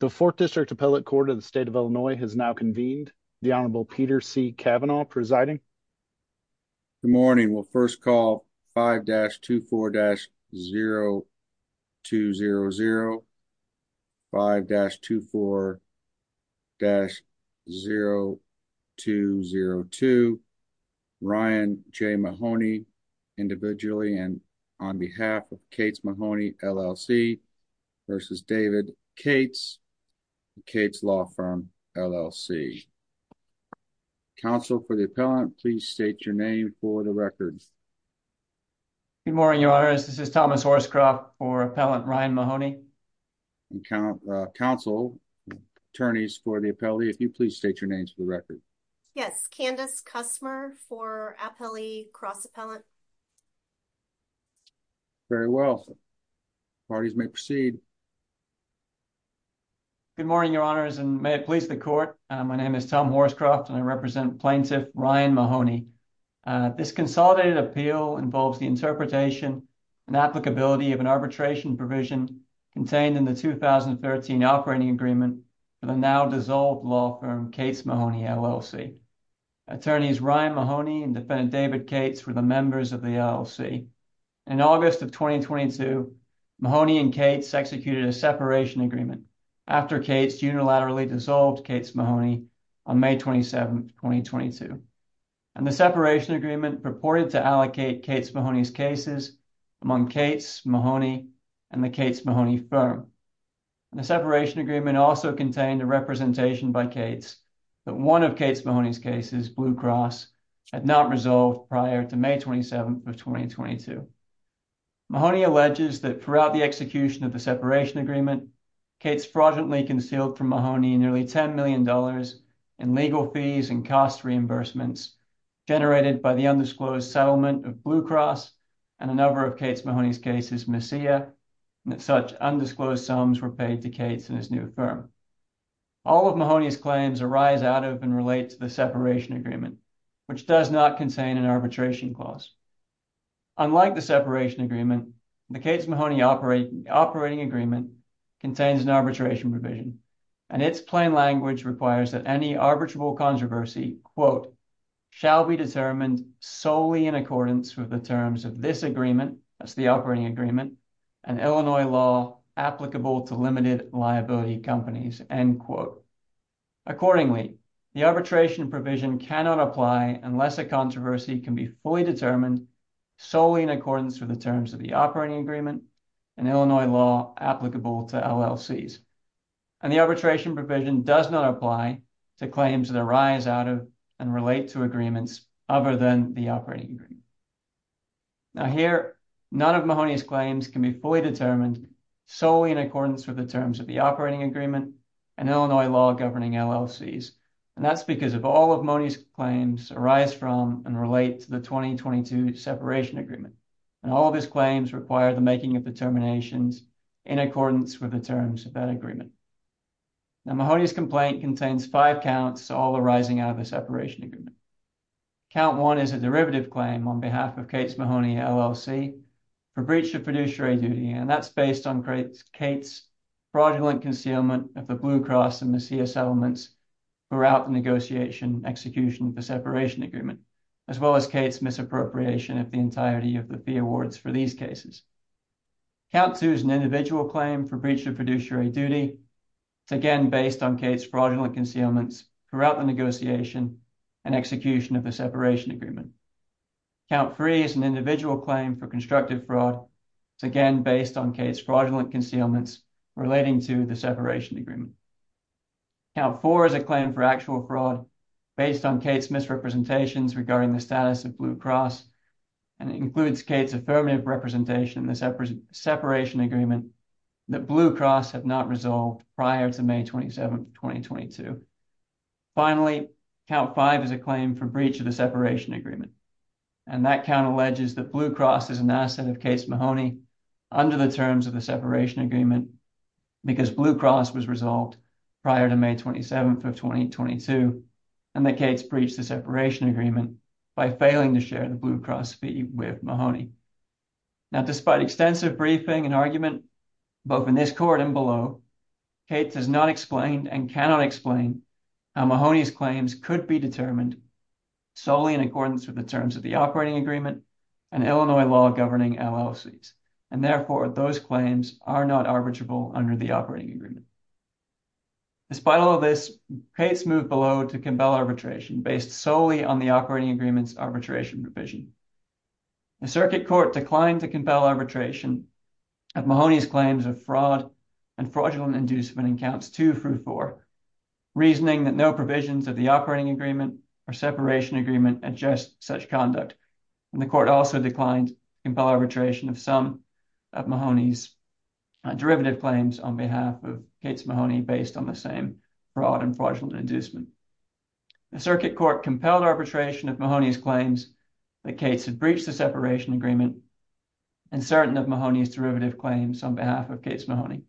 The 4th District Appellate Court of the State of Illinois has now convened. The Honorable Peter C. Kavanaugh presiding. Good morning. We'll first call 5-24-0200, 5-24-0202, Ryan J. Mahoney individually, and on behalf of Cates Mahoney, LLC versus David Cates, Cates Law Firm, LLC. Counsel for the appellant, please state your name for the record. Good morning, Your Honors. This is Thomas Horscroft for Appellant Ryan Mahoney. Counsel, attorneys for the appellate, if you please state your name for the record. Yes, Candace Kusmer for Appellee Cross Appellant. Very well. Parties may proceed. Good morning, Your Honors, and may it please the court. My name is Tom Horscroft, and I represent Plaintiff Ryan Mahoney. This consolidated appeal involves the interpretation and applicability of an arbitration provision contained in the 2013 operating agreement for the now-dissolved law firm, Cates Mahoney, LLC. Attorneys Ryan Mahoney and defendant David Cates were the members of the LLC. In August of 2022, Mahoney and Cates executed a separation agreement after Cates unilaterally dissolved Cates Mahoney on May 27, 2022, and the separation agreement purported to allocate Cates Mahoney's cases among Cates Mahoney and the Cates Mahoney firm. The separation agreement also contained a representation by Cates that one of Cates Mahoney's cases, Blue Cross, had not resolved prior to May 27, 2022. Mahoney alleges that throughout the execution of the separation agreement, Cates fraudulently concealed from Mahoney nearly $10 million in legal fees and cost reimbursements generated by the undisclosed sums were paid to Cates and his new firm. All of Mahoney's claims arise out of and relate to the separation agreement, which does not contain an arbitration clause. Unlike the separation agreement, the Cates Mahoney operating agreement contains an arbitration provision, and its plain language requires that any arbitrable controversy, quote, shall be determined solely in accordance with the terms of this agreement, that's the operating agreement, and Illinois law applicable to limited liability companies, end quote. Accordingly, the arbitration provision cannot apply unless a controversy can be fully determined solely in accordance with the terms of the operating agreement and Illinois law applicable to LLCs, and the arbitration provision does not apply to claims that arise out of and relate to agreements other than the operating agreement. Now here, none of Mahoney's claims can be fully determined solely in accordance with the terms of the operating agreement and Illinois law governing LLCs, and that's because of all of Mahoney's claims arise from and relate to the 2022 separation agreement, and all of his claims require the making of determinations in accordance with the terms of that agreement. Now Mahoney's complaint contains five counts all arising out of the separation agreement. Count one is a derivative claim on behalf of Cates Mahoney LLC for breach of fiduciary duty, and that's based on Cates fraudulent concealment of the Blue Cross and Messiah settlements throughout the negotiation execution of the separation agreement, as well as Cates misappropriation of the entirety of the fee awards for these cases. Count two is an individual claim for breach of fiduciary duty. It's again based on Cates fraudulent concealments throughout the negotiation and execution of the separation agreement. Count three is an individual claim for constructive fraud. It's again based on Cates fraudulent concealments relating to the separation agreement. Count four is a claim for actual fraud based on Cates misrepresentations regarding the status of Blue Cross, and it includes Cates affirmative representation in the separation agreement that Blue Cross have not resolved prior to May 27th, 2022. Finally, count five is a claim for breach of the separation agreement, and that count alleges that Blue Cross is an asset of Cates Mahoney under the terms of the separation agreement because Blue Cross was resolved prior to May 27th of 2022, and that Cates breached the separation agreement by failing to share the Blue Cross fee with Mahoney. Now, despite extensive briefing and argument, both in this court and below, Cates has not explained and cannot explain how Mahoney's claims could be determined solely in accordance with the terms of the operating agreement and Illinois law governing LLCs, and therefore those claims are not arbitrable under the operating agreement. Despite all this, Cates moved below to compel arbitration based solely on the operating agreement's arbitration provision. The circuit court declined to compel arbitration of Mahoney's claims of fraud and fraudulent inducement in counts two through four, reasoning that no provisions of the operating agreement or separation agreement adjust such conduct, and the court also declined to compel arbitration of some of Mahoney's derivative claims on behalf of Cates Mahoney based on the same fraud and fraudulent inducement. The circuit court compelled arbitration of Mahoney's claims that Cates had breached the separation agreement and certain of Mahoney's derivative claims on behalf of Cates Mahoney,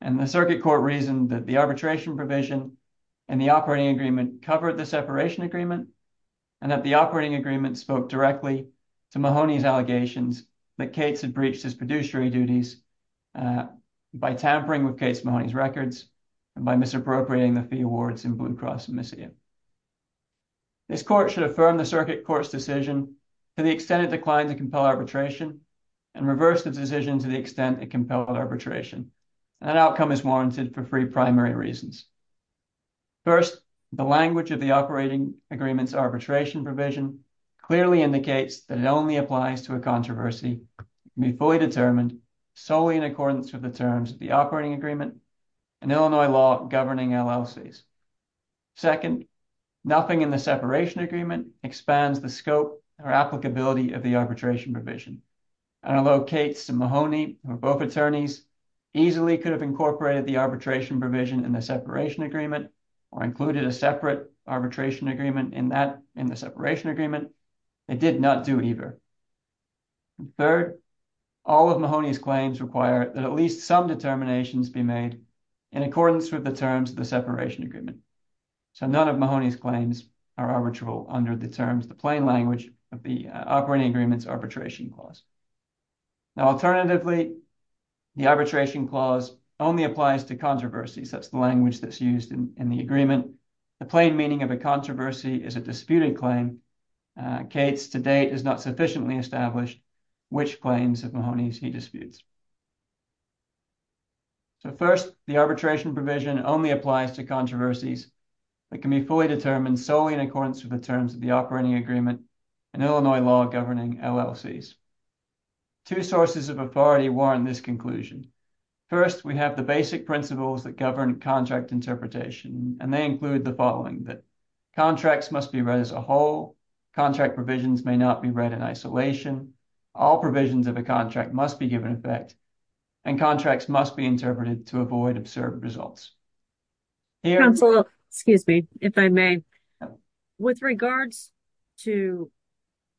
and the circuit court reasoned that the arbitration provision and the operating agreement covered the separation agreement and that the operating agreement spoke directly to Mahoney's allegations that Cates had breached his producery duties by tampering with Cates Mahoney's records and by misappropriating the fee awards in Blue Cross and Mississippi. This court should affirm the circuit court's decision to the extent it declined to compel arbitration and reverse the decision to the extent it compelled arbitration. An outcome is warranted for three primary reasons. First, the language of the operating agreement's arbitration provision clearly indicates that it only applies to a controversy to be fully determined solely in accordance with the terms of the operating agreement and Illinois law governing LLCs. Second, nothing in the separation agreement expands the scope or applicability of the arbitration provision, and although Cates and Mahoney, who are both attorneys, easily could have incorporated the arbitration provision in the separation agreement or included a separate arbitration agreement in that in the separation agreement, they did not do either. Third, all of Mahoney's claims require that at least some determinations be made in accordance with the terms of the separation agreement. So, none of Mahoney's claims are arbitral under the terms, the plain language of the operating agreement's arbitration clause. Now, alternatively, the arbitration clause only applies to controversies. That's the language that's used in the agreement. The plain meaning of a controversy is a disputed claim. Cates, to date, has not sufficiently established which claims of Mahoney's he disputes. So, first, the arbitration provision only applies to controversies that can be fully determined solely in accordance with the terms of the operating agreement and Illinois law governing LLCs. Two sources of authority warrant this conclusion. First, we have the basic principles that govern contract interpretation, and they include the following, that contracts must be as a whole, contract provisions may not be read in isolation, all provisions of a contract must be given effect, and contracts must be interpreted to avoid absurd results. Counselor, excuse me, if I may, with regards to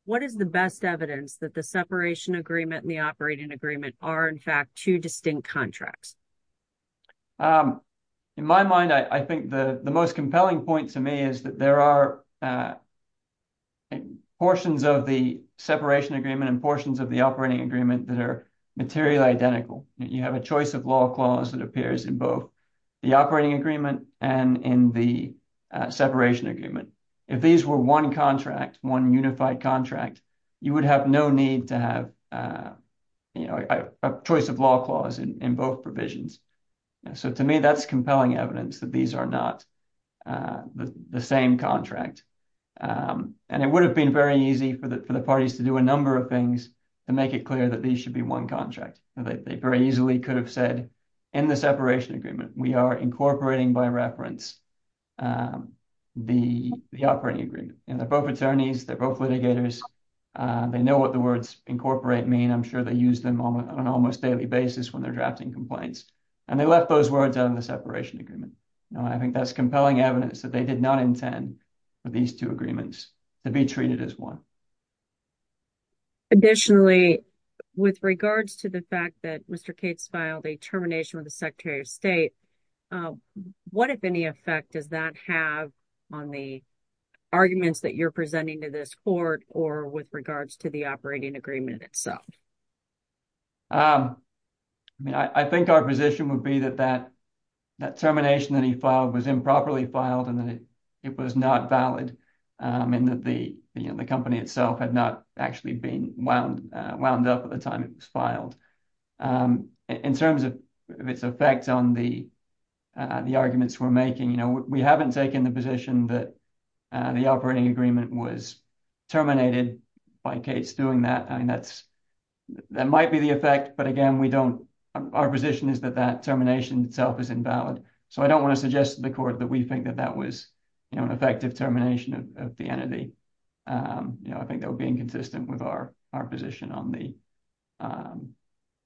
what is the best evidence that the separation agreement and the operating agreement are, in fact, two distinct contracts? In my mind, I think the most compelling point to me is that there are portions of the separation agreement and portions of the operating agreement that are materially identical. You have a choice of law clause that appears in both the operating agreement and in the separation agreement. If these were one contract, one unified contract, you would have no need to have a choice of law clause in both provisions. So, to me, that's compelling evidence that these are not the same contract. And it would have been very easy for the parties to do a number of things to make it clear that these should be one contract. They very easily could have said in the separation agreement, we are incorporating by reference the operating agreement. And they're both attorneys, they're they know what the words incorporate mean. I'm sure they use them on an almost daily basis when they're drafting complaints. And they left those words out of the separation agreement. Now, I think that's compelling evidence that they did not intend for these two agreements to be treated as one. Additionally, with regards to the fact that Mr. Cates filed a termination with the Secretary of State, what, if any, effect does that have on the arguments that you're presenting to this court or with regards to the operating agreement itself? I mean, I think our position would be that that termination that he filed was improperly filed, and that it was not valid, and that the company itself had not actually been wound up at the time it was filed. In terms of its effect on the arguments we're making, you know, we haven't taken the position that the operating agreement was terminated by Cates doing that. I mean, that's that might be the effect, but again, we don't, our position is that that termination itself is invalid. So I don't want to suggest to the court that we think that that was, you know, an effective termination of the entity. You know, I think that would be inconsistent with our position on the,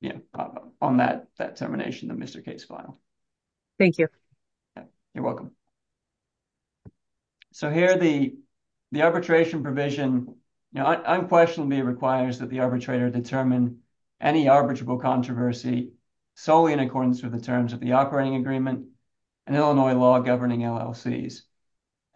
you know, on that termination that Mr. Cates filed. Thank you. You're welcome. So here the arbitration provision, you know, unquestionably requires that the arbitrator determine any arbitrable controversy solely in accordance with the terms of the operating agreement and Illinois law governing LLCs.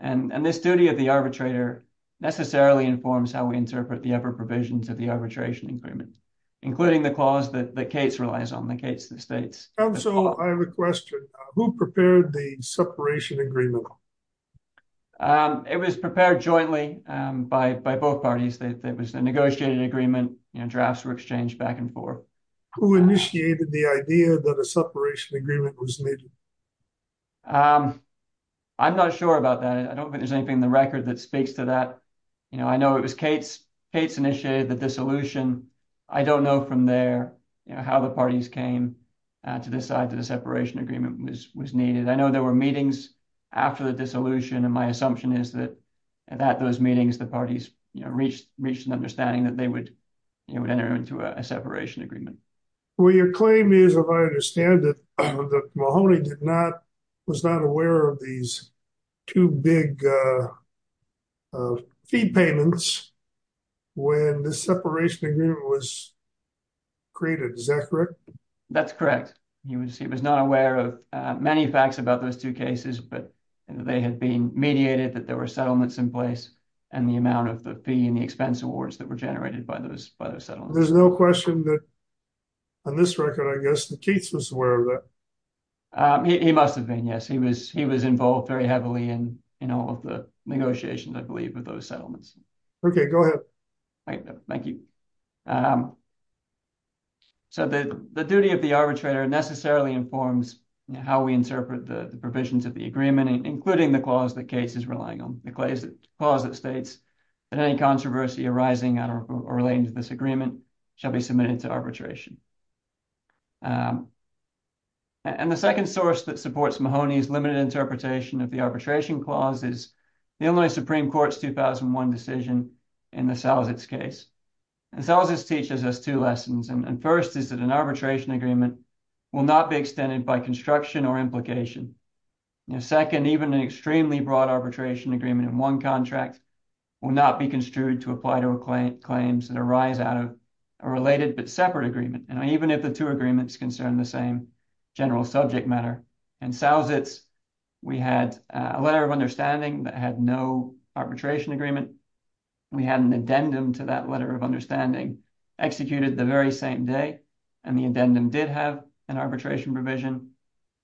And this duty of the arbitrator necessarily informs how we interpret the other provisions of the arbitration agreement, including the clause that Cates relies on, the case that states... Counsel, I have a question. Who prepared the separation agreement? It was prepared jointly by both parties. It was a negotiated agreement, you know, drafts were exchanged back and forth. Who initiated the idea that a separation agreement was needed? I'm not sure about that. I don't think there's anything in the record that speaks to that. You know, I know it was Cates, Cates initiated the dissolution. I don't know from there, you know, how the parties came to decide that a separation agreement was needed. I know there were meetings after the dissolution, and my assumption is that at those meetings, the parties reached an understanding that they would enter into a separation agreement. Well, your claim is, if I understand it, that Mahoney was not aware of these two big fee payments when the separation agreement was created. Is that correct? That's correct. He was not aware of many facts about those two cases, but they had been mediated that there were settlements in place, and the amount of the fee and the expense awards that were generated by those settlements. There's no question that, on this record, I guess that Cates was aware of that. He must have been, yes. He was involved very heavily in all of the negotiations, I believe, of those settlements. Okay, go ahead. Thank you. So, the duty of the arbitrator necessarily informs how we interpret the provisions of the agreement, including the clause that Cates is relying on, the clause that states that any controversy arising or relating to this agreement shall be submitted to arbitration. And the second source that supports Mahoney's interpretation of the arbitration clause is the Illinois Supreme Court's 2001 decision in the Salzitz case. And Salzitz teaches us two lessons. And first is that an arbitration agreement will not be extended by construction or implication. And second, even an extremely broad arbitration agreement in one contract will not be construed to apply to claims that arise out of a related but separate agreement. And even if the two agreements concern the same general subject matter, in Salzitz, we had a letter of understanding that had no arbitration agreement. We had an addendum to that letter of understanding executed the very same day, and the addendum did have an arbitration provision,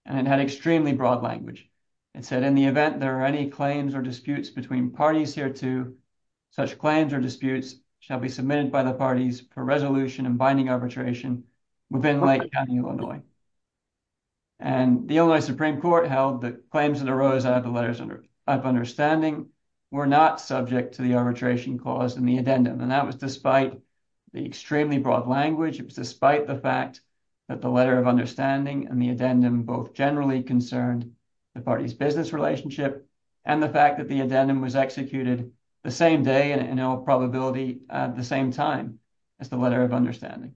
and it had extremely broad language. It said, in the event there are any claims or disputes between parties hereto, such claims or disputes shall be submitted by the parties for resolution and binding arbitration within Lake County, Illinois. And the Illinois Supreme Court held that claims that arose out of the letters of understanding were not subject to the arbitration clause in the addendum. And that was despite the extremely broad language. It was despite the fact that the letter of understanding and the addendum both generally concerned the party's business relationship and the fact that the addendum was executed the same day and in all probability at the same time as the letter of understanding.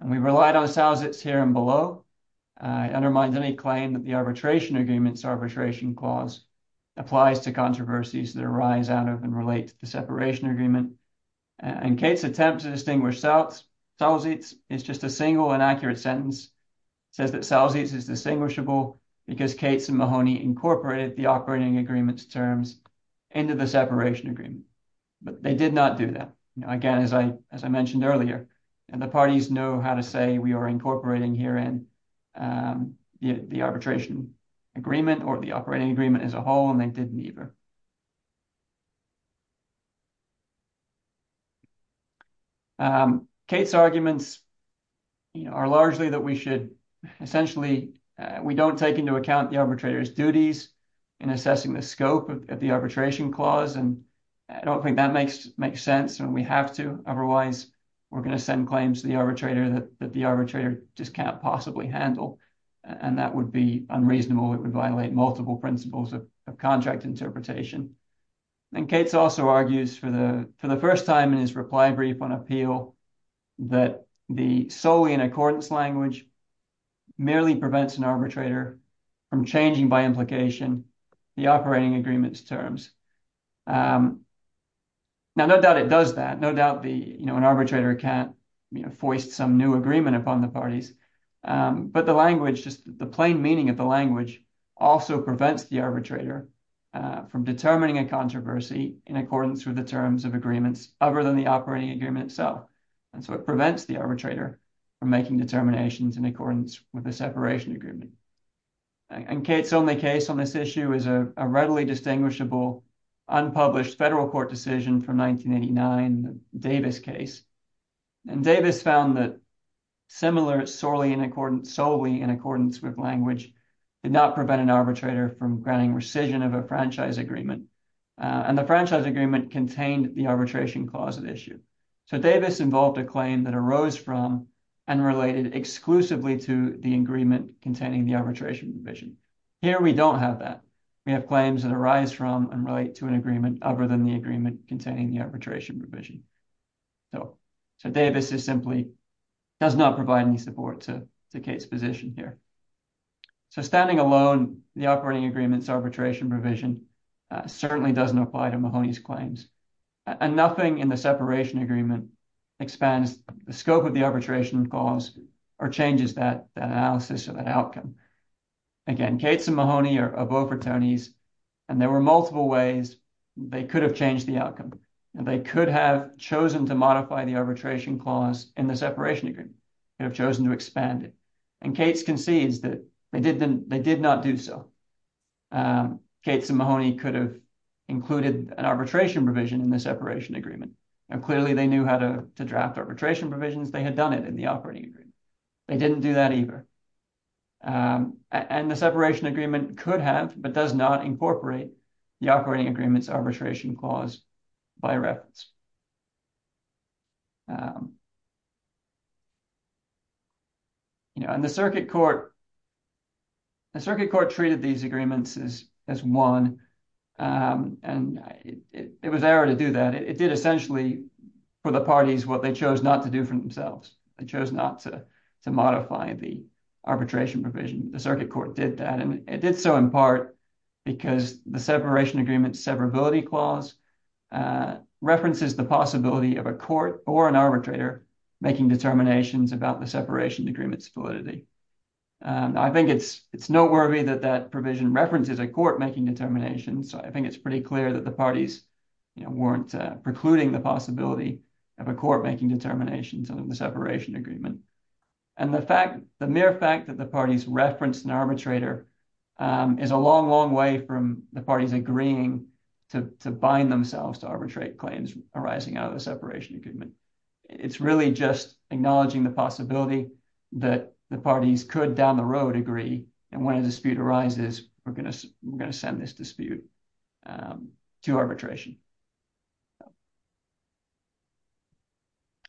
And we relied on Salzitz here and below. It undermines any claim that the arbitration agreements arbitration clause applies to controversies that arise out of and relate to the separation agreement. And Kate's attempt to distinguish Salzitz is just a single inaccurate sentence. It says that Salzitz is distinguishable because Kate's and Mahoney incorporated the operating agreements terms into the separation agreement, but they did not do that. Again, as I mentioned earlier, and the parties know how to say we are incorporating here in the arbitration agreement or the operating agreement as a whole, and they didn't either. Kate's arguments are largely that we should essentially, we don't take into account the arbitrator's duties in assessing the scope of the arbitration clause. And I don't think that makes sense when we have to, otherwise we're going to send claims to the arbitrator that the arbitrator just can't possibly handle. And that would be unreasonable. It would violate multiple principles of contract interpretation. And Kate's also argues for the first time in his reply brief on appeal that the solely in accordance language merely prevents an arbitrator from changing by the operating agreements terms. Now, no doubt it does that. No doubt an arbitrator can't foist some new agreement upon the parties, but the plain meaning of the language also prevents the arbitrator from determining a controversy in accordance with the terms of agreements other than the operating agreement itself. And so it prevents the arbitrator from making determinations in accordance with the separation agreement. And Kate's only case on this issue is a readily distinguishable unpublished federal court decision from 1989, the Davis case. And Davis found that similar solely in accordance with language did not prevent an arbitrator from granting rescission of a franchise agreement. And the franchise agreement contained the arbitration clause of the issue. So Davis involved a claim that arose from and related exclusively to the agreement containing the arbitration provision. Here, we don't have that. We have claims that arise from and relate to an agreement other than the agreement containing the arbitration provision. So Davis simply does not provide any support to Kate's position here. So standing alone, the operating agreements arbitration provision certainly doesn't apply to Mahoney's claims. And nothing in the separation agreement expands the scope of the arbitration clause or changes that analysis or that outcome. Again, Kate's and Mahoney are both attorneys, and there were multiple ways they could have changed the outcome. And they could have chosen to modify the arbitration clause in the separation agreement, could have chosen to expand it. And Kate's concedes that they did not do so. Kate's and Mahoney could have included an arbitration provision in the separation agreement. And clearly, they knew how to draft arbitration provisions. They had done it in the operating agreement. They didn't do that either. And the separation agreement could have but does not incorporate the operating agreements arbitration clause by reference. And the circuit court treated these agreements as one. And it was error to do that. It did essentially, for the parties, what they chose not to do for themselves. They chose not to modify the arbitration provision. The circuit court did that. And it did so in part because the separation agreement severability clause references the arbitration provision in the separation agreement. It also references the possibility of a court or an arbitrator making determinations about the separation agreements validity. I think it's noteworthy that that provision references a court making determinations. I think it's pretty clear that the parties weren't precluding the possibility of a court making determinations on the separation agreement. And the mere fact that the parties referenced an arbitrator is a long, long way from the parties agreeing to bind themselves to arbitrate claims arising out of the separation agreement. It's really just acknowledging the possibility that the parties could down the road agree. And when a dispute arises, we're going to send this dispute to arbitration.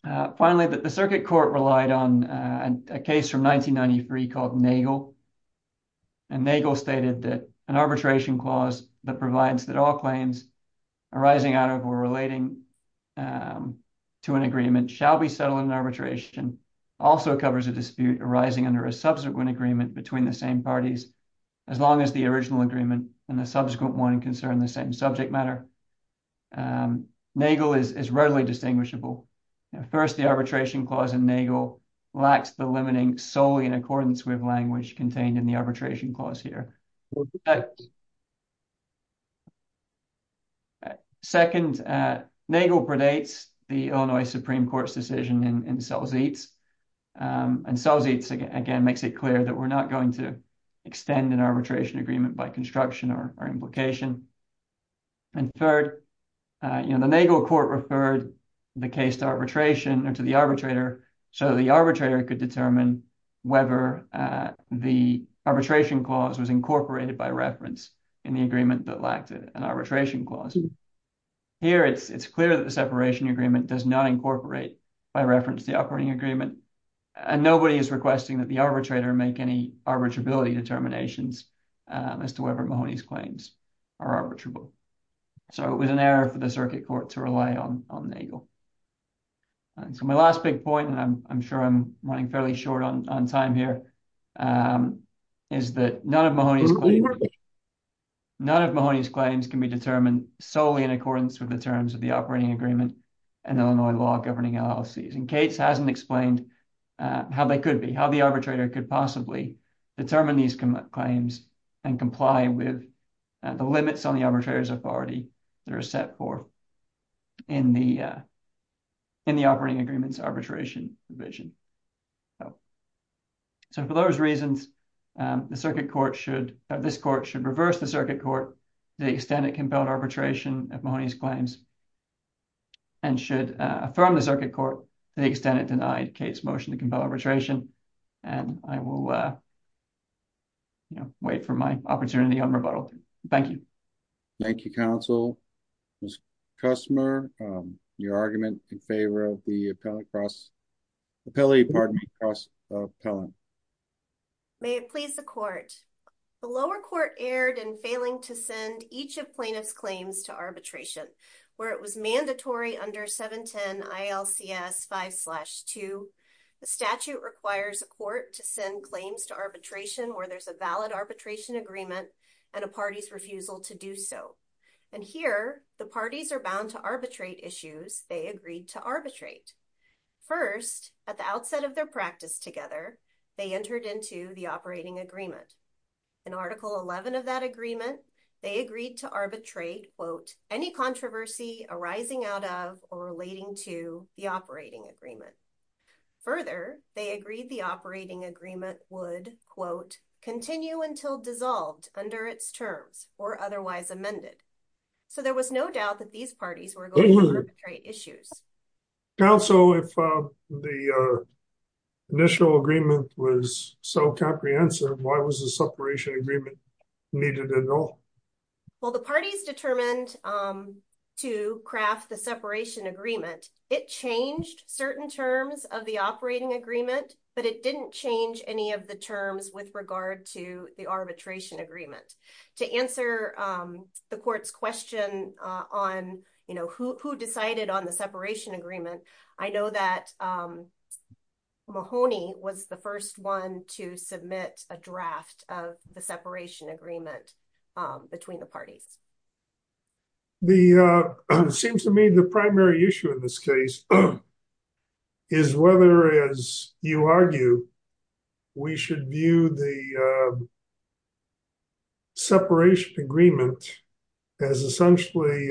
Finally, the circuit court relied on a case from 1993 called Nagel. And Nagel stated that an arbitration clause that provides that all arising out of or relating to an agreement shall be settled in arbitration also covers a dispute arising under a subsequent agreement between the same parties as long as the original agreement and the subsequent one concern the same subject matter. Nagel is readily distinguishable. First, the arbitration clause in Nagel lacks the limiting solely in accordance with language contained in the arbitration clause here. Second, Nagel predates the Illinois Supreme Court's decision in Selzitz. And Selzitz, again, makes it clear that we're not going to extend an arbitration agreement by construction or implication. And third, you know, the Nagel court referred the case to arbitration or to the arbitrator so the arbitrator could determine whether the arbitration clause was incorporated by reference in the agreement that lacked an arbitration clause. Here, it's clear that the separation agreement does not incorporate by reference the operating agreement. And nobody is requesting that the arbitrator make any arbitrability determinations as to whether Mahoney's claims are arbitrable. So it was an error for the circuit court to rely on Nagel. So my last big point, and I'm sure I'm running fairly short on time here, is that none of Mahoney's claims can be determined solely in accordance with the terms of the operating agreement and Illinois law governing LLCs. And Cates hasn't explained how they could be, how the arbitrator could possibly determine these claims and comply with the limits on the arbitrator's authority that are set forth in the operating agreement's arbitration provision. So for those reasons, the circuit court should, this court should reverse the circuit court to the extent it compelled arbitration of Mahoney's claims and should affirm the circuit court to the extent it denied Cates' motion to compel arbitration. And I will, you know, my opportunity on rebuttal. Thank you. Thank you, counsel. Ms. Kusmer, your argument in favor of the appellate cross, appellate, pardon me, cross appellant. May it please the court. The lower court erred in failing to send each of plaintiff's claims to arbitration where it was mandatory under 710 ILCS 5 slash 2. The statute requires a court to send claims to arbitration where there's a valid arbitration agreement and a party's refusal to do so. And here the parties are bound to arbitrate issues they agreed to arbitrate. First at the outset of their practice together, they entered into the operating agreement. In article 11 of that agreement, they agreed to arbitrate quote, any controversy arising out of or relating to the operating agreement. Further, they agreed the operating agreement would quote, continue until dissolved under its terms or otherwise amended. So there was no doubt that these parties were going to arbitrate issues. Counsel, if the initial agreement was so comprehensive, why was the separation agreement needed at all? Well, parties determined to craft the separation agreement. It changed certain terms of the operating agreement, but it didn't change any of the terms with regard to the arbitration agreement. To answer the court's question on who decided on the separation agreement, I know that Mahoney was the first one to submit a draft of the separation agreement between the parties. It seems to me the primary issue in this case is whether, as you argue, we should view the separation agreement as essentially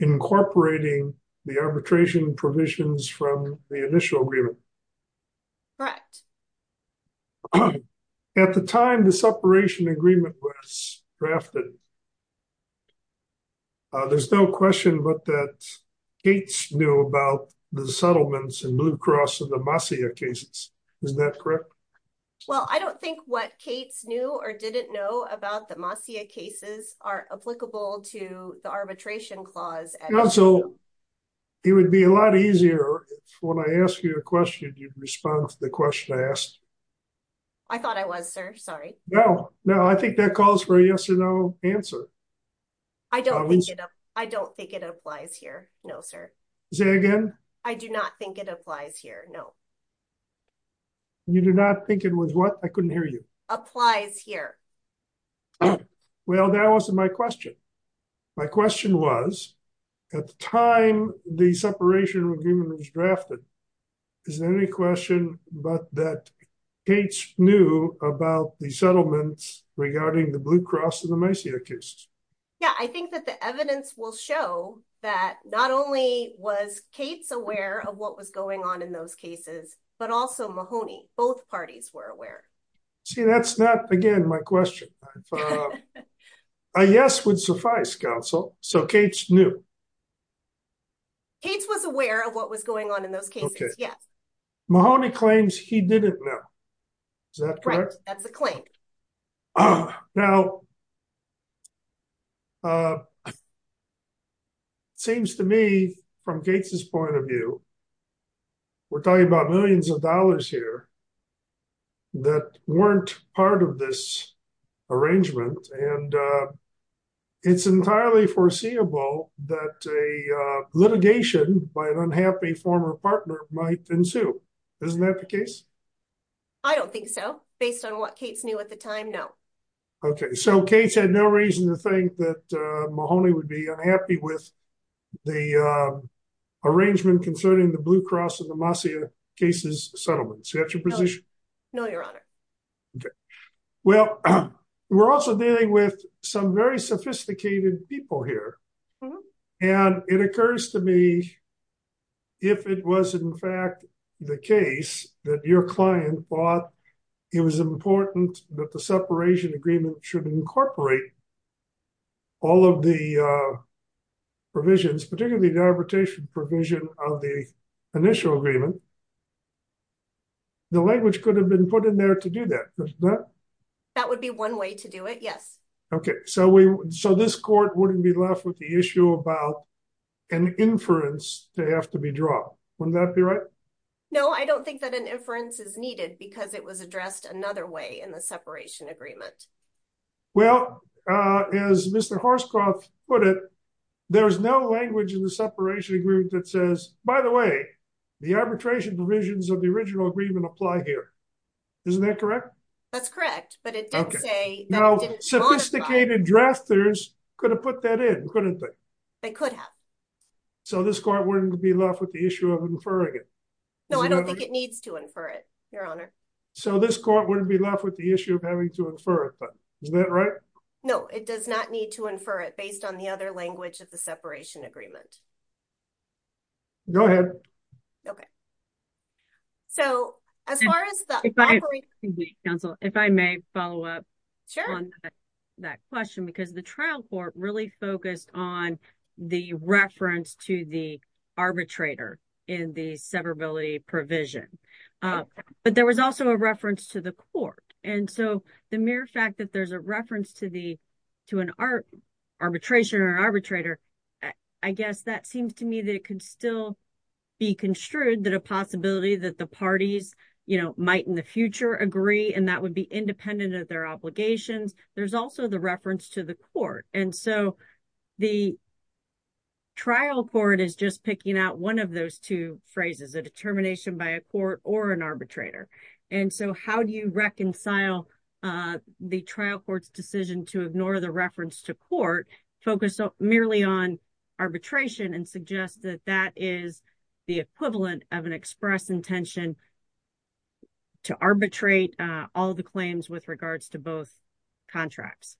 incorporating the arbitration provisions from the initial agreement. Correct. At the time the separation agreement was drafted, there's no question but that Cates knew about the settlements in Blue Cross and the Masia cases. Isn't that correct? Well, I don't think what Cates knew or didn't know about the Masia cases are applicable to the arbitration clause. Also, it would be a lot easier if when I ask you a question, you'd respond to the question I asked. I thought I was, sir. Sorry. No, no. I think that calls for a yes or no answer. I don't think it applies here. No, sir. Say again. I do not think it applies here. No. You do not think it was what? I couldn't hear you. Applies here. Okay. Well, that wasn't my question. My question was, at the time the separation agreement was drafted, is there any question but that Cates knew about the settlements regarding the Blue Cross and the Masia cases? Yeah. I think that the evidence will show that not only was Cates aware of what was going on in those cases, but also Mahoney. Both parties were aware. See, that's not, again, my question. A yes would suffice, counsel. So, Cates knew. Cates was aware of what was going on in those cases. Yes. Mahoney claims he didn't know. Is that correct? Right. That's a claim. Now, it seems to me from Cates' point of view, we're talking about millions of dollars here, that weren't part of this arrangement, and it's entirely foreseeable that a litigation by an unhappy former partner might ensue. Isn't that the case? I don't think so. Based on what Cates knew at the time, no. Okay. So, Cates had no reason to think that Mahoney would be unhappy with the arrangement concerning the Blue Cross and the Masia cases settlement. Is that your position? No, your honor. Okay. Well, we're also dealing with some very sophisticated people here, and it occurs to me if it was in fact the case that your client thought it was important that separation agreement should incorporate all of the provisions, particularly the arbitration provision of the initial agreement, the language could have been put in there to do that. That would be one way to do it, yes. Okay. So, this court wouldn't be left with the issue about an inference to have to be drawn. Wouldn't that be right? No, I don't think that an inference is needed because it was addressed another way in the separation agreement. Well, as Mr. Horscroft put it, there's no language in the separation agreement that says, by the way, the arbitration provisions of the original agreement apply here. Isn't that correct? That's correct, but it didn't say that. Now, sophisticated drafters could have put that in, couldn't they? They could have. So, this court wouldn't be left with the issue of inferring it. No, I don't think it needs to infer it, your honor. So, this court wouldn't be left with the issue of having to infer it, but is that right? No, it does not need to infer it based on the other language of the separation agreement. Go ahead. Okay. So, as far as the... Counsel, if I may follow up on that question because the trial court really focused on the reference to the arbitrator in the severability provision, but there was also a reference to the court. And so, the mere fact that there's a reference to an arbitration or arbitrator, I guess that seems to me that it could still be construed that a possibility that the parties might in the future agree and that would be independent of their obligations. There's also the reference to the court. And so, the trial court is just picking out one of those two phrases, a determination by a court or an arbitrator. And so, how do you reconcile the trial court's decision to ignore the reference to court, focus merely on arbitration and suggest that that is the equivalent of an express intention to arbitrate all the claims with regards to both contracts?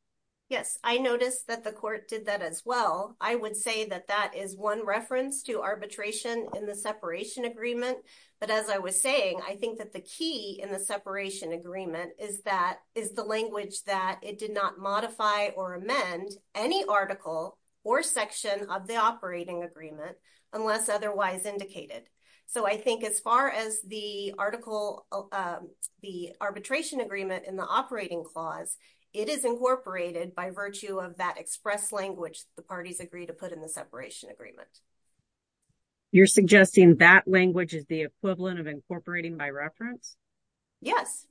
Yes. I noticed that the court did that as well. I would say that that is one reference to arbitration in the separation agreement. But as I was saying, I think that the key in the separation agreement is the language that it did not modify or amend any article or section of the operating agreement unless otherwise indicated. So, I think as far as the arbitration agreement in the operating clause, it is incorporated by virtue of that express language the parties agree to put in the that language is the equivalent of incorporating by reference? Yes.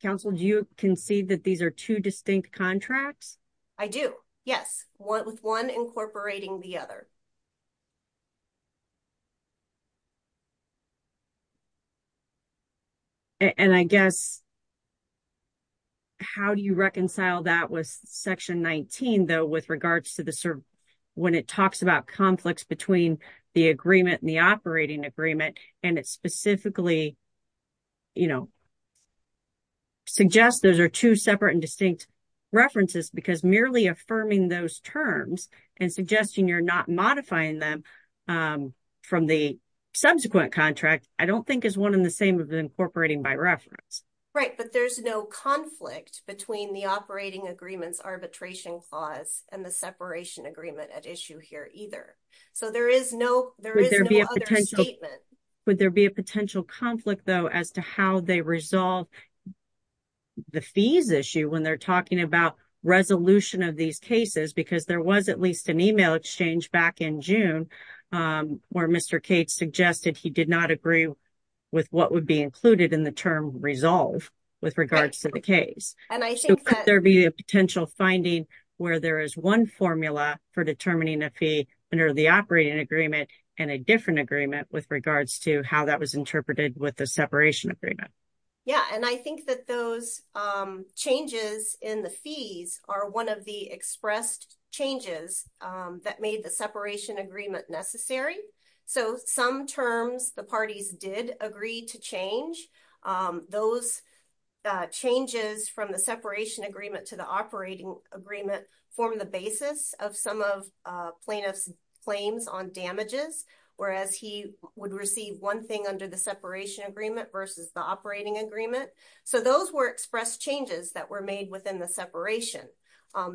Counsel, do you concede that these are two distinct contracts? I do. Yes. With one incorporating the other. And I guess, how do you reconcile that with section 19 though with regards to the when it talks about conflicts between the agreement and the operating agreement and it specifically, you know, suggests those are two separate and distinct references because merely affirming those terms and suggesting you're not modifying them from the subsequent contract, I don't think is one and the same as incorporating by reference. Right. But there's no conflict between the operating agreement's arbitration clause and the separation agreement at issue here either. So, there is no other statement. Would there be a potential conflict though as to how they resolve the fees issue when they're talking about resolution of these cases because there was at least an email exchange back in June where Mr. Cates suggested he did not agree with what would be included in the term resolve with regards to the case? So, could there be a potential finding where there is one formula for determining a fee under the operating agreement and a different agreement with regards to how that was interpreted with the separation agreement? Yeah. And I think that those changes in the fees are one of the expressed changes that made the separation agreement necessary. So, some terms the parties did agree to change. Those changes from the separation agreement to the operating agreement form the basis of some of plaintiff's claims on damages, whereas he would receive one thing under the separation agreement versus the operating agreement. So, those were expressed changes that were made within the separation.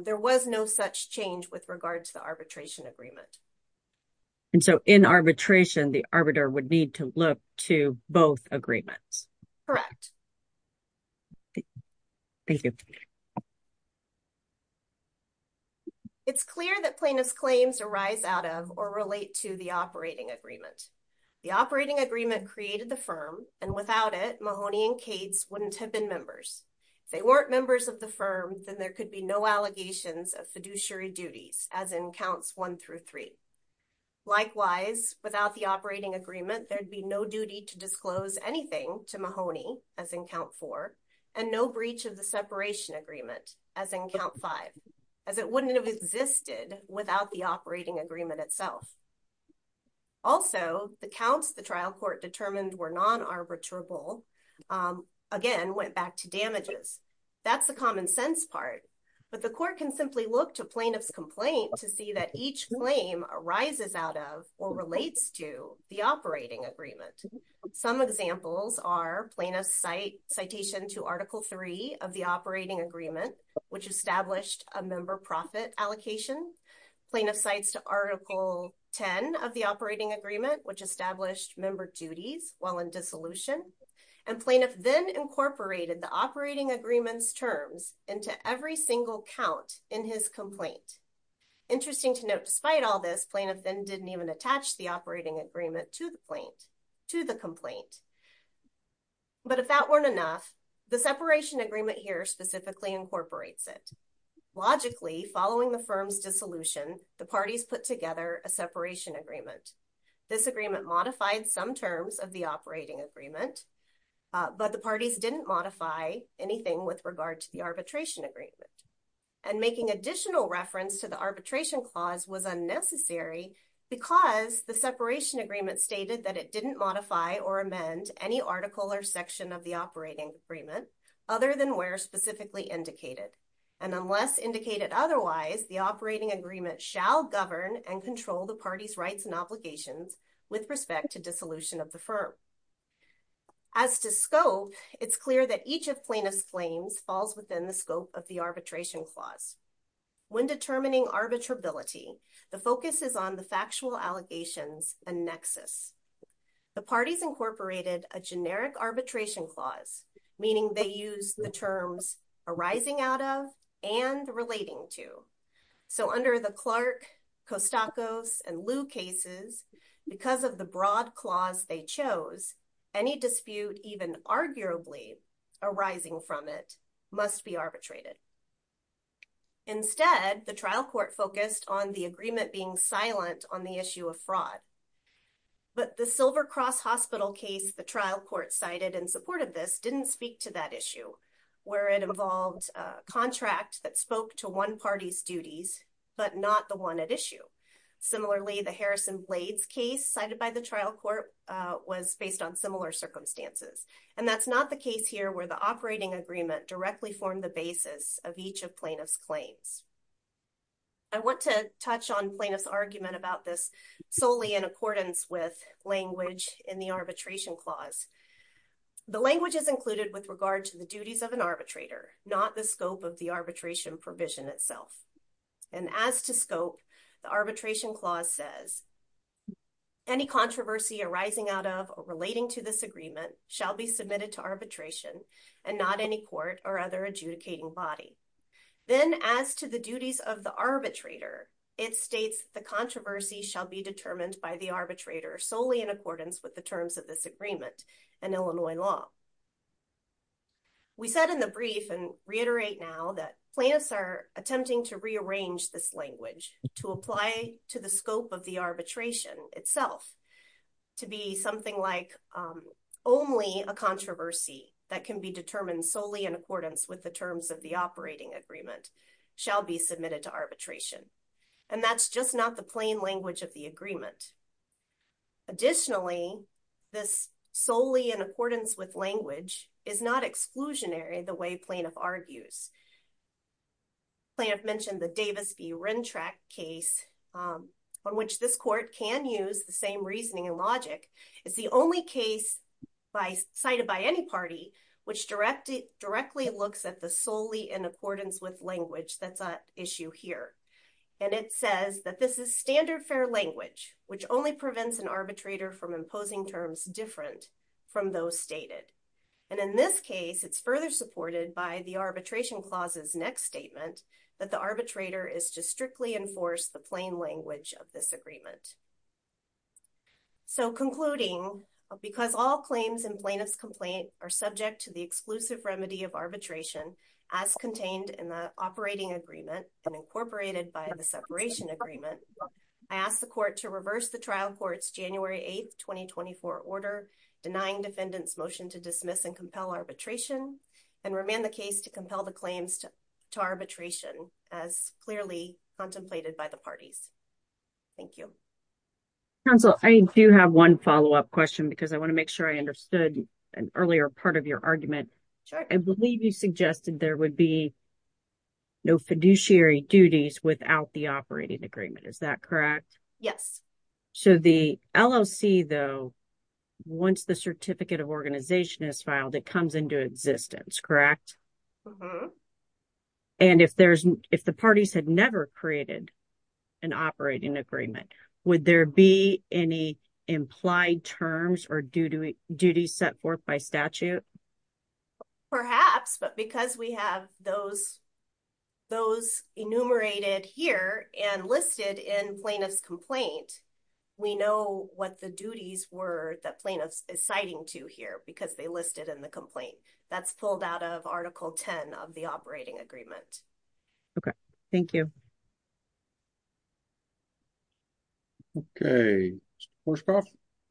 There was no such change with regard to the arbitration agreement. And so, in arbitration, the arbiter would need to look to both agreements. Correct. Thank you. It's clear that plaintiff's claims arise out of or relate to the operating agreement. The operating agreement created the firm and without it Mahoney and Cates wouldn't have been members. If they weren't members of the firm, then there could be no allegations of fiduciary duties, as in counts one through three. Likewise, without the operating agreement, there'd be no duty to disclose anything to Mahoney, as in count four, and no breach of the separation agreement, as in count five, as it wouldn't have existed without the operating agreement itself. Also, the counts the trial court determined were non-arbitrable, again, went back to damages. That's the common sense part. But the court can simply look to plaintiff's complaint to see that each claim arises out of or relates to the operating agreement. Some examples are plaintiff's citation to Article III of the operating agreement, which established a member profit allocation, plaintiff's cites to Article X of the operating agreement, which established member duties while in dissolution, and plaintiff then incorporated the operating agreement's terms into every single count in his complaint. Interesting to note, despite all this, plaintiff then didn't even attach the operating agreement to the complaint. But if that weren't enough, the separation agreement here specifically incorporates it. Logically, following the firm's dissolution, the parties put together a separation agreement. This agreement modified some terms of the operating agreement, but the parties didn't modify anything with regard to the arbitration agreement. And making additional reference to the arbitration clause was unnecessary because the separation agreement stated that it didn't modify or amend any article or section of the operating agreement other than where specifically indicated. And unless indicated otherwise, the operating agreement shall govern and control the party's rights and obligations with respect to dissolution of the firm. As to scope, it's clear that each of plaintiff's claims falls within the scope of the arbitration clause. When determining arbitrability, the focus is on the factual allegations and nexus. The parties incorporated a generic arbitration clause, meaning they use the terms arising out of and relating to. So under the Clark, Costacos, and Liu cases, because of the broad clause they chose, any dispute even arguably arising from it must be arbitrated. Instead, the trial court focused on the agreement being silent on the issue of fraud. But the Silver Cross Hospital case the trial court cited in support of this didn't speak to that issue, where it involved a contract that spoke to one party's duties but not the one at issue. Similarly, the Harrison Blades case cited by the trial court was based on similar circumstances. And that's not the case here where the operating agreement directly formed the basis of each of plaintiff's claims. I want to touch on plaintiff's argument about this solely in accordance with language in the arbitration clause. The language is included with regard to the duties of an arbitrator, not the scope of the arbitration provision itself. And as to scope, the arbitration clause says any controversy arising out of or relating to this agreement shall be submitted to arbitration and not any court or other adjudicating body. Then as to the duties of the arbitrator, it states the controversy shall be determined by the solely in accordance with the terms of this agreement and Illinois law. We said in the brief and reiterate now that plaintiffs are attempting to rearrange this language to apply to the scope of the arbitration itself to be something like only a controversy that can be determined solely in accordance with the terms of the operating agreement shall be submitted to arbitration. And that's just not the plain language of the agreement. Additionally, this solely in accordance with language is not exclusionary the way plaintiff argues. Plaintiff mentioned the Davis v. Rentrack case on which this court can use the same reasoning and logic. It's the only case cited by any party which directly looks at the solely in accordance with language that's at issue here. And it says that this is standard fair language, which only prevents an arbitrator from imposing terms different from those stated. And in this case, it's further supported by the arbitration clauses next statement that the arbitrator is to strictly enforce the plain language of this agreement. So concluding, because all claims in plaintiff's complaint are subject to the exclusive remedy of arbitration as contained in the operating agreement and incorporated by the separation agreement. I asked the court to reverse the trial court's January 8, 2024 order denying defendants motion to dismiss and compel arbitration and remain the case to compel the claims to arbitration as clearly contemplated by the parties. Thank you. Counsel, I do have one follow up question because I want to make sure I understood an earlier part of your argument. I believe you suggested there would be no fiduciary duties without the operating agreement. Is that correct? Yes. So the LLC though, once the certificate of organization is filed, it comes into existence, correct? And if there's if the parties had never created an operating agreement, would there be any implied terms or duties set forth by statute? Perhaps, but because we have those, those enumerated here and listed in plaintiff's complaint, we know what the duties were that plaintiffs is citing to here because they listed in the complaint that's pulled out of article 10 of the operating agreement. Okay, thank you. Okay,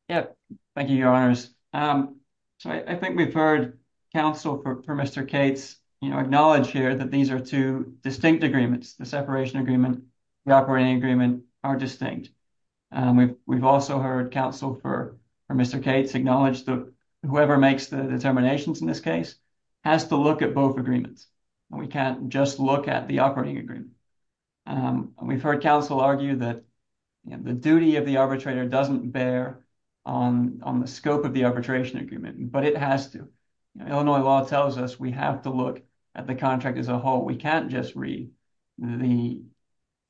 yeah, thank you, your honors. So I think we've heard counsel for Mr. Kate's, you know, acknowledge here that these are two distinct agreements, the separation agreement, the operating agreement are distinct. We've also heard counsel for Mr. Kate's acknowledge that whoever makes the determinations in this case has to look at both agreements. We can't just look at the operating agreement. We've heard counsel argue that the duty of the arbitrator doesn't bear on the scope of the arbitration agreement, but it has to. Illinois law tells us we have to look at the contract as a whole. We can't just read the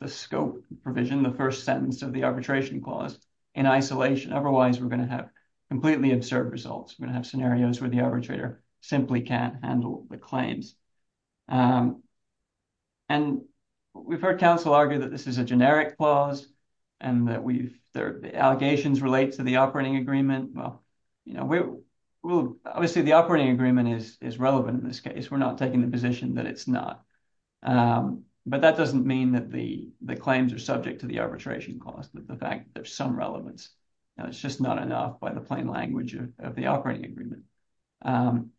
scope provision, the first sentence of the arbitration clause in isolation. Otherwise we're going to have completely absurd results. We're going to have scenarios where the arbitrator simply can't handle the claims. And we've heard counsel argue that this is a generic clause and that the allegations relate to the operating agreement. Well, you know, obviously the operating agreement is relevant in this case. We're not taking the position that it's not. But that doesn't mean that the claims are subject to the arbitration clause, that the fact that there's some relevance, it's just not enough by the plain language of the operating agreement.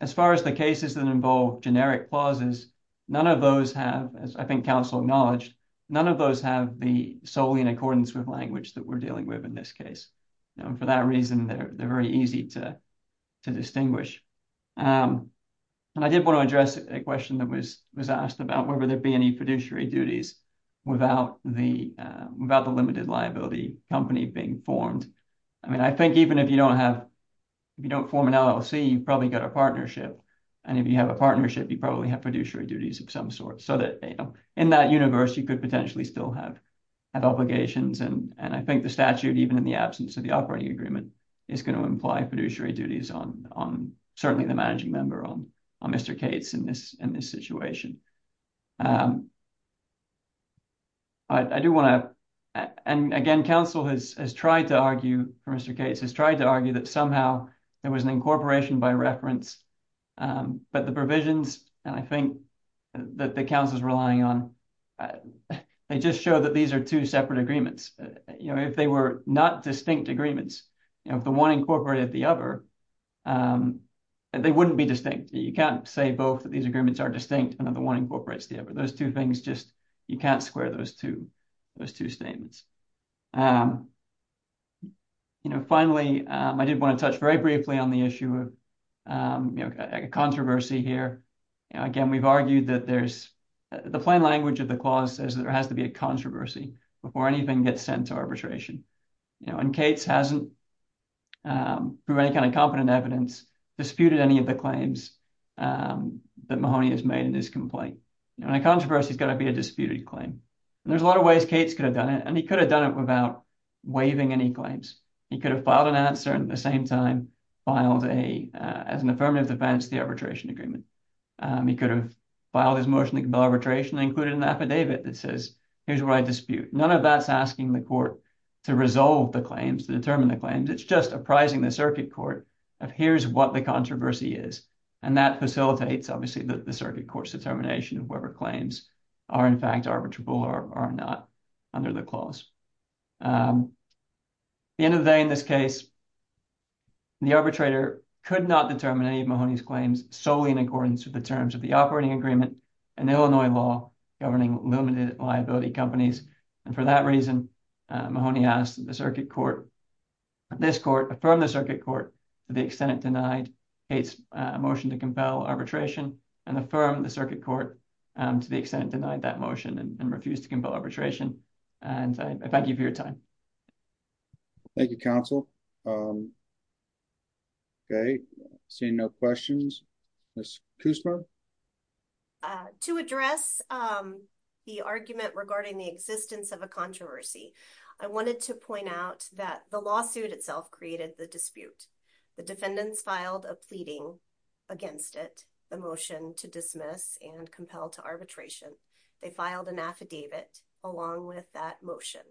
As far as the cases that involve generic clauses, none of those have, as I think counsel acknowledged, none of those have the solely in accordance with language that we're dealing with in this case. And for that reason, they're very easy to distinguish. And I did want to address a question that was asked about whether there'd be any fiduciary duties without the limited liability company being formed. I mean, I think even if you don't have, if you don't form an LLC, you've probably got a partnership. And if you have a partnership, you probably have fiduciary duties of some sort so that in that universe, you could potentially still have obligations. And I think the statute, even in the absence of the operating agreement, is going to imply fiduciary duties on certainly the managing member, on Mr. Cates in this situation. I do want to, and again, counsel has tried to argue for Mr. Cates, has tried to argue that there was an incorporation by reference, but the provisions, and I think that the counsel's relying on, they just show that these are two separate agreements. If they were not distinct agreements, if the one incorporated the other, they wouldn't be distinct. You can't say both that these agreements are distinct and that the one incorporates the other. Those two things just, you can't square those two, those two statements. Finally, I did want to touch very briefly on the issue of a controversy here. Again, we've argued that there's, the plain language of the clause says that there has to be a controversy before anything gets sent to arbitration. And Cates hasn't, through any kind of competent evidence, disputed any of the claims that Mahoney has made in his complaint. And a controversy has got to be a disputed claim. And there's a lot of ways Cates could have done it, and he could have done it without waiving any claims. He could have filed an answer and at the same time filed a, as an affirmative defense, the arbitration agreement. He could have filed his motion to compel arbitration and included an affidavit that says, here's what I dispute. None of that's asking the court to resolve the claims, to determine the claims. It's just apprising the circuit court of here's what the controversy is. And that facilitates obviously the circuit court's determination of whoever claims are in fact arbitrable or are not under the clause. The end of the day in this case, the arbitrator could not determine any of Mahoney's claims solely in accordance with the terms of the operating agreement and Illinois law governing limited liability companies. And for that reason, Mahoney asked the circuit court, this court, affirmed the circuit court to the extent it denied Cates a motion to compel arbitration and affirm the circuit court to the extent denied that motion and refused to compel arbitration. And I thank you for your time. Thank you, counsel. Okay, seeing no questions. To address the argument regarding the existence of a controversy. I wanted to point out that the lawsuit itself created the dispute. The defendants filed a pleading against it, the motion to dismiss and compel to arbitration. They filed an affidavit along with that motion.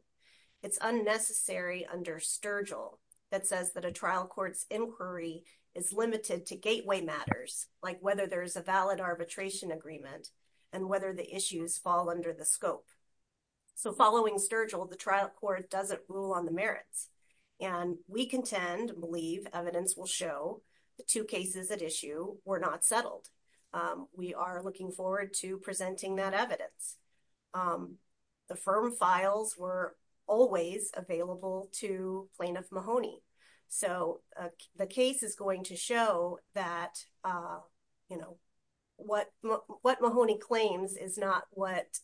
It's unnecessary under Sturgill that says that a trial court's inquiry is limited to gateway matters, like whether there's a valid arbitration agreement and whether the issues fall under the scope. So following Sturgill, the trial court doesn't rule on the merits. And we contend, believe, evidence will show the two cases at issue were not settled. We are looking forward to presenting that evidence. The firm files were always available to plaintiff Mahoney. So the case is going to show that, you know, what what Mahoney claims is not what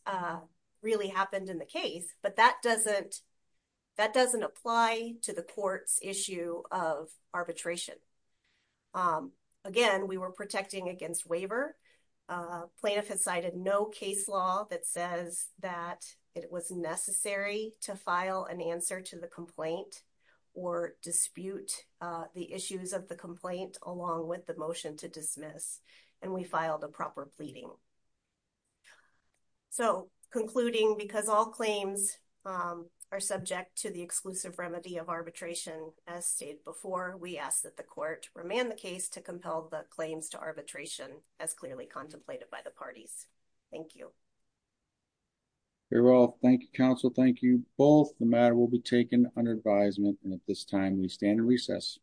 really happened in the case. But that doesn't that doesn't apply to the court's issue of arbitration. Again, we were protecting against waiver. Plaintiff has cited no case law that says that it was necessary to file an answer to the complaint or dispute the issues of the complaint along with the motion to dismiss. And we filed a proper pleading. So concluding, because all claims are subject to the exclusive remedy of arbitration, as stated before, we ask that the court remand the case to compel the claims to arbitration as clearly contemplated by the parties. Thank you. They're all thank you, counsel. Thank you. Both the matter will be taken under advisement. And at this time, we stand in recess.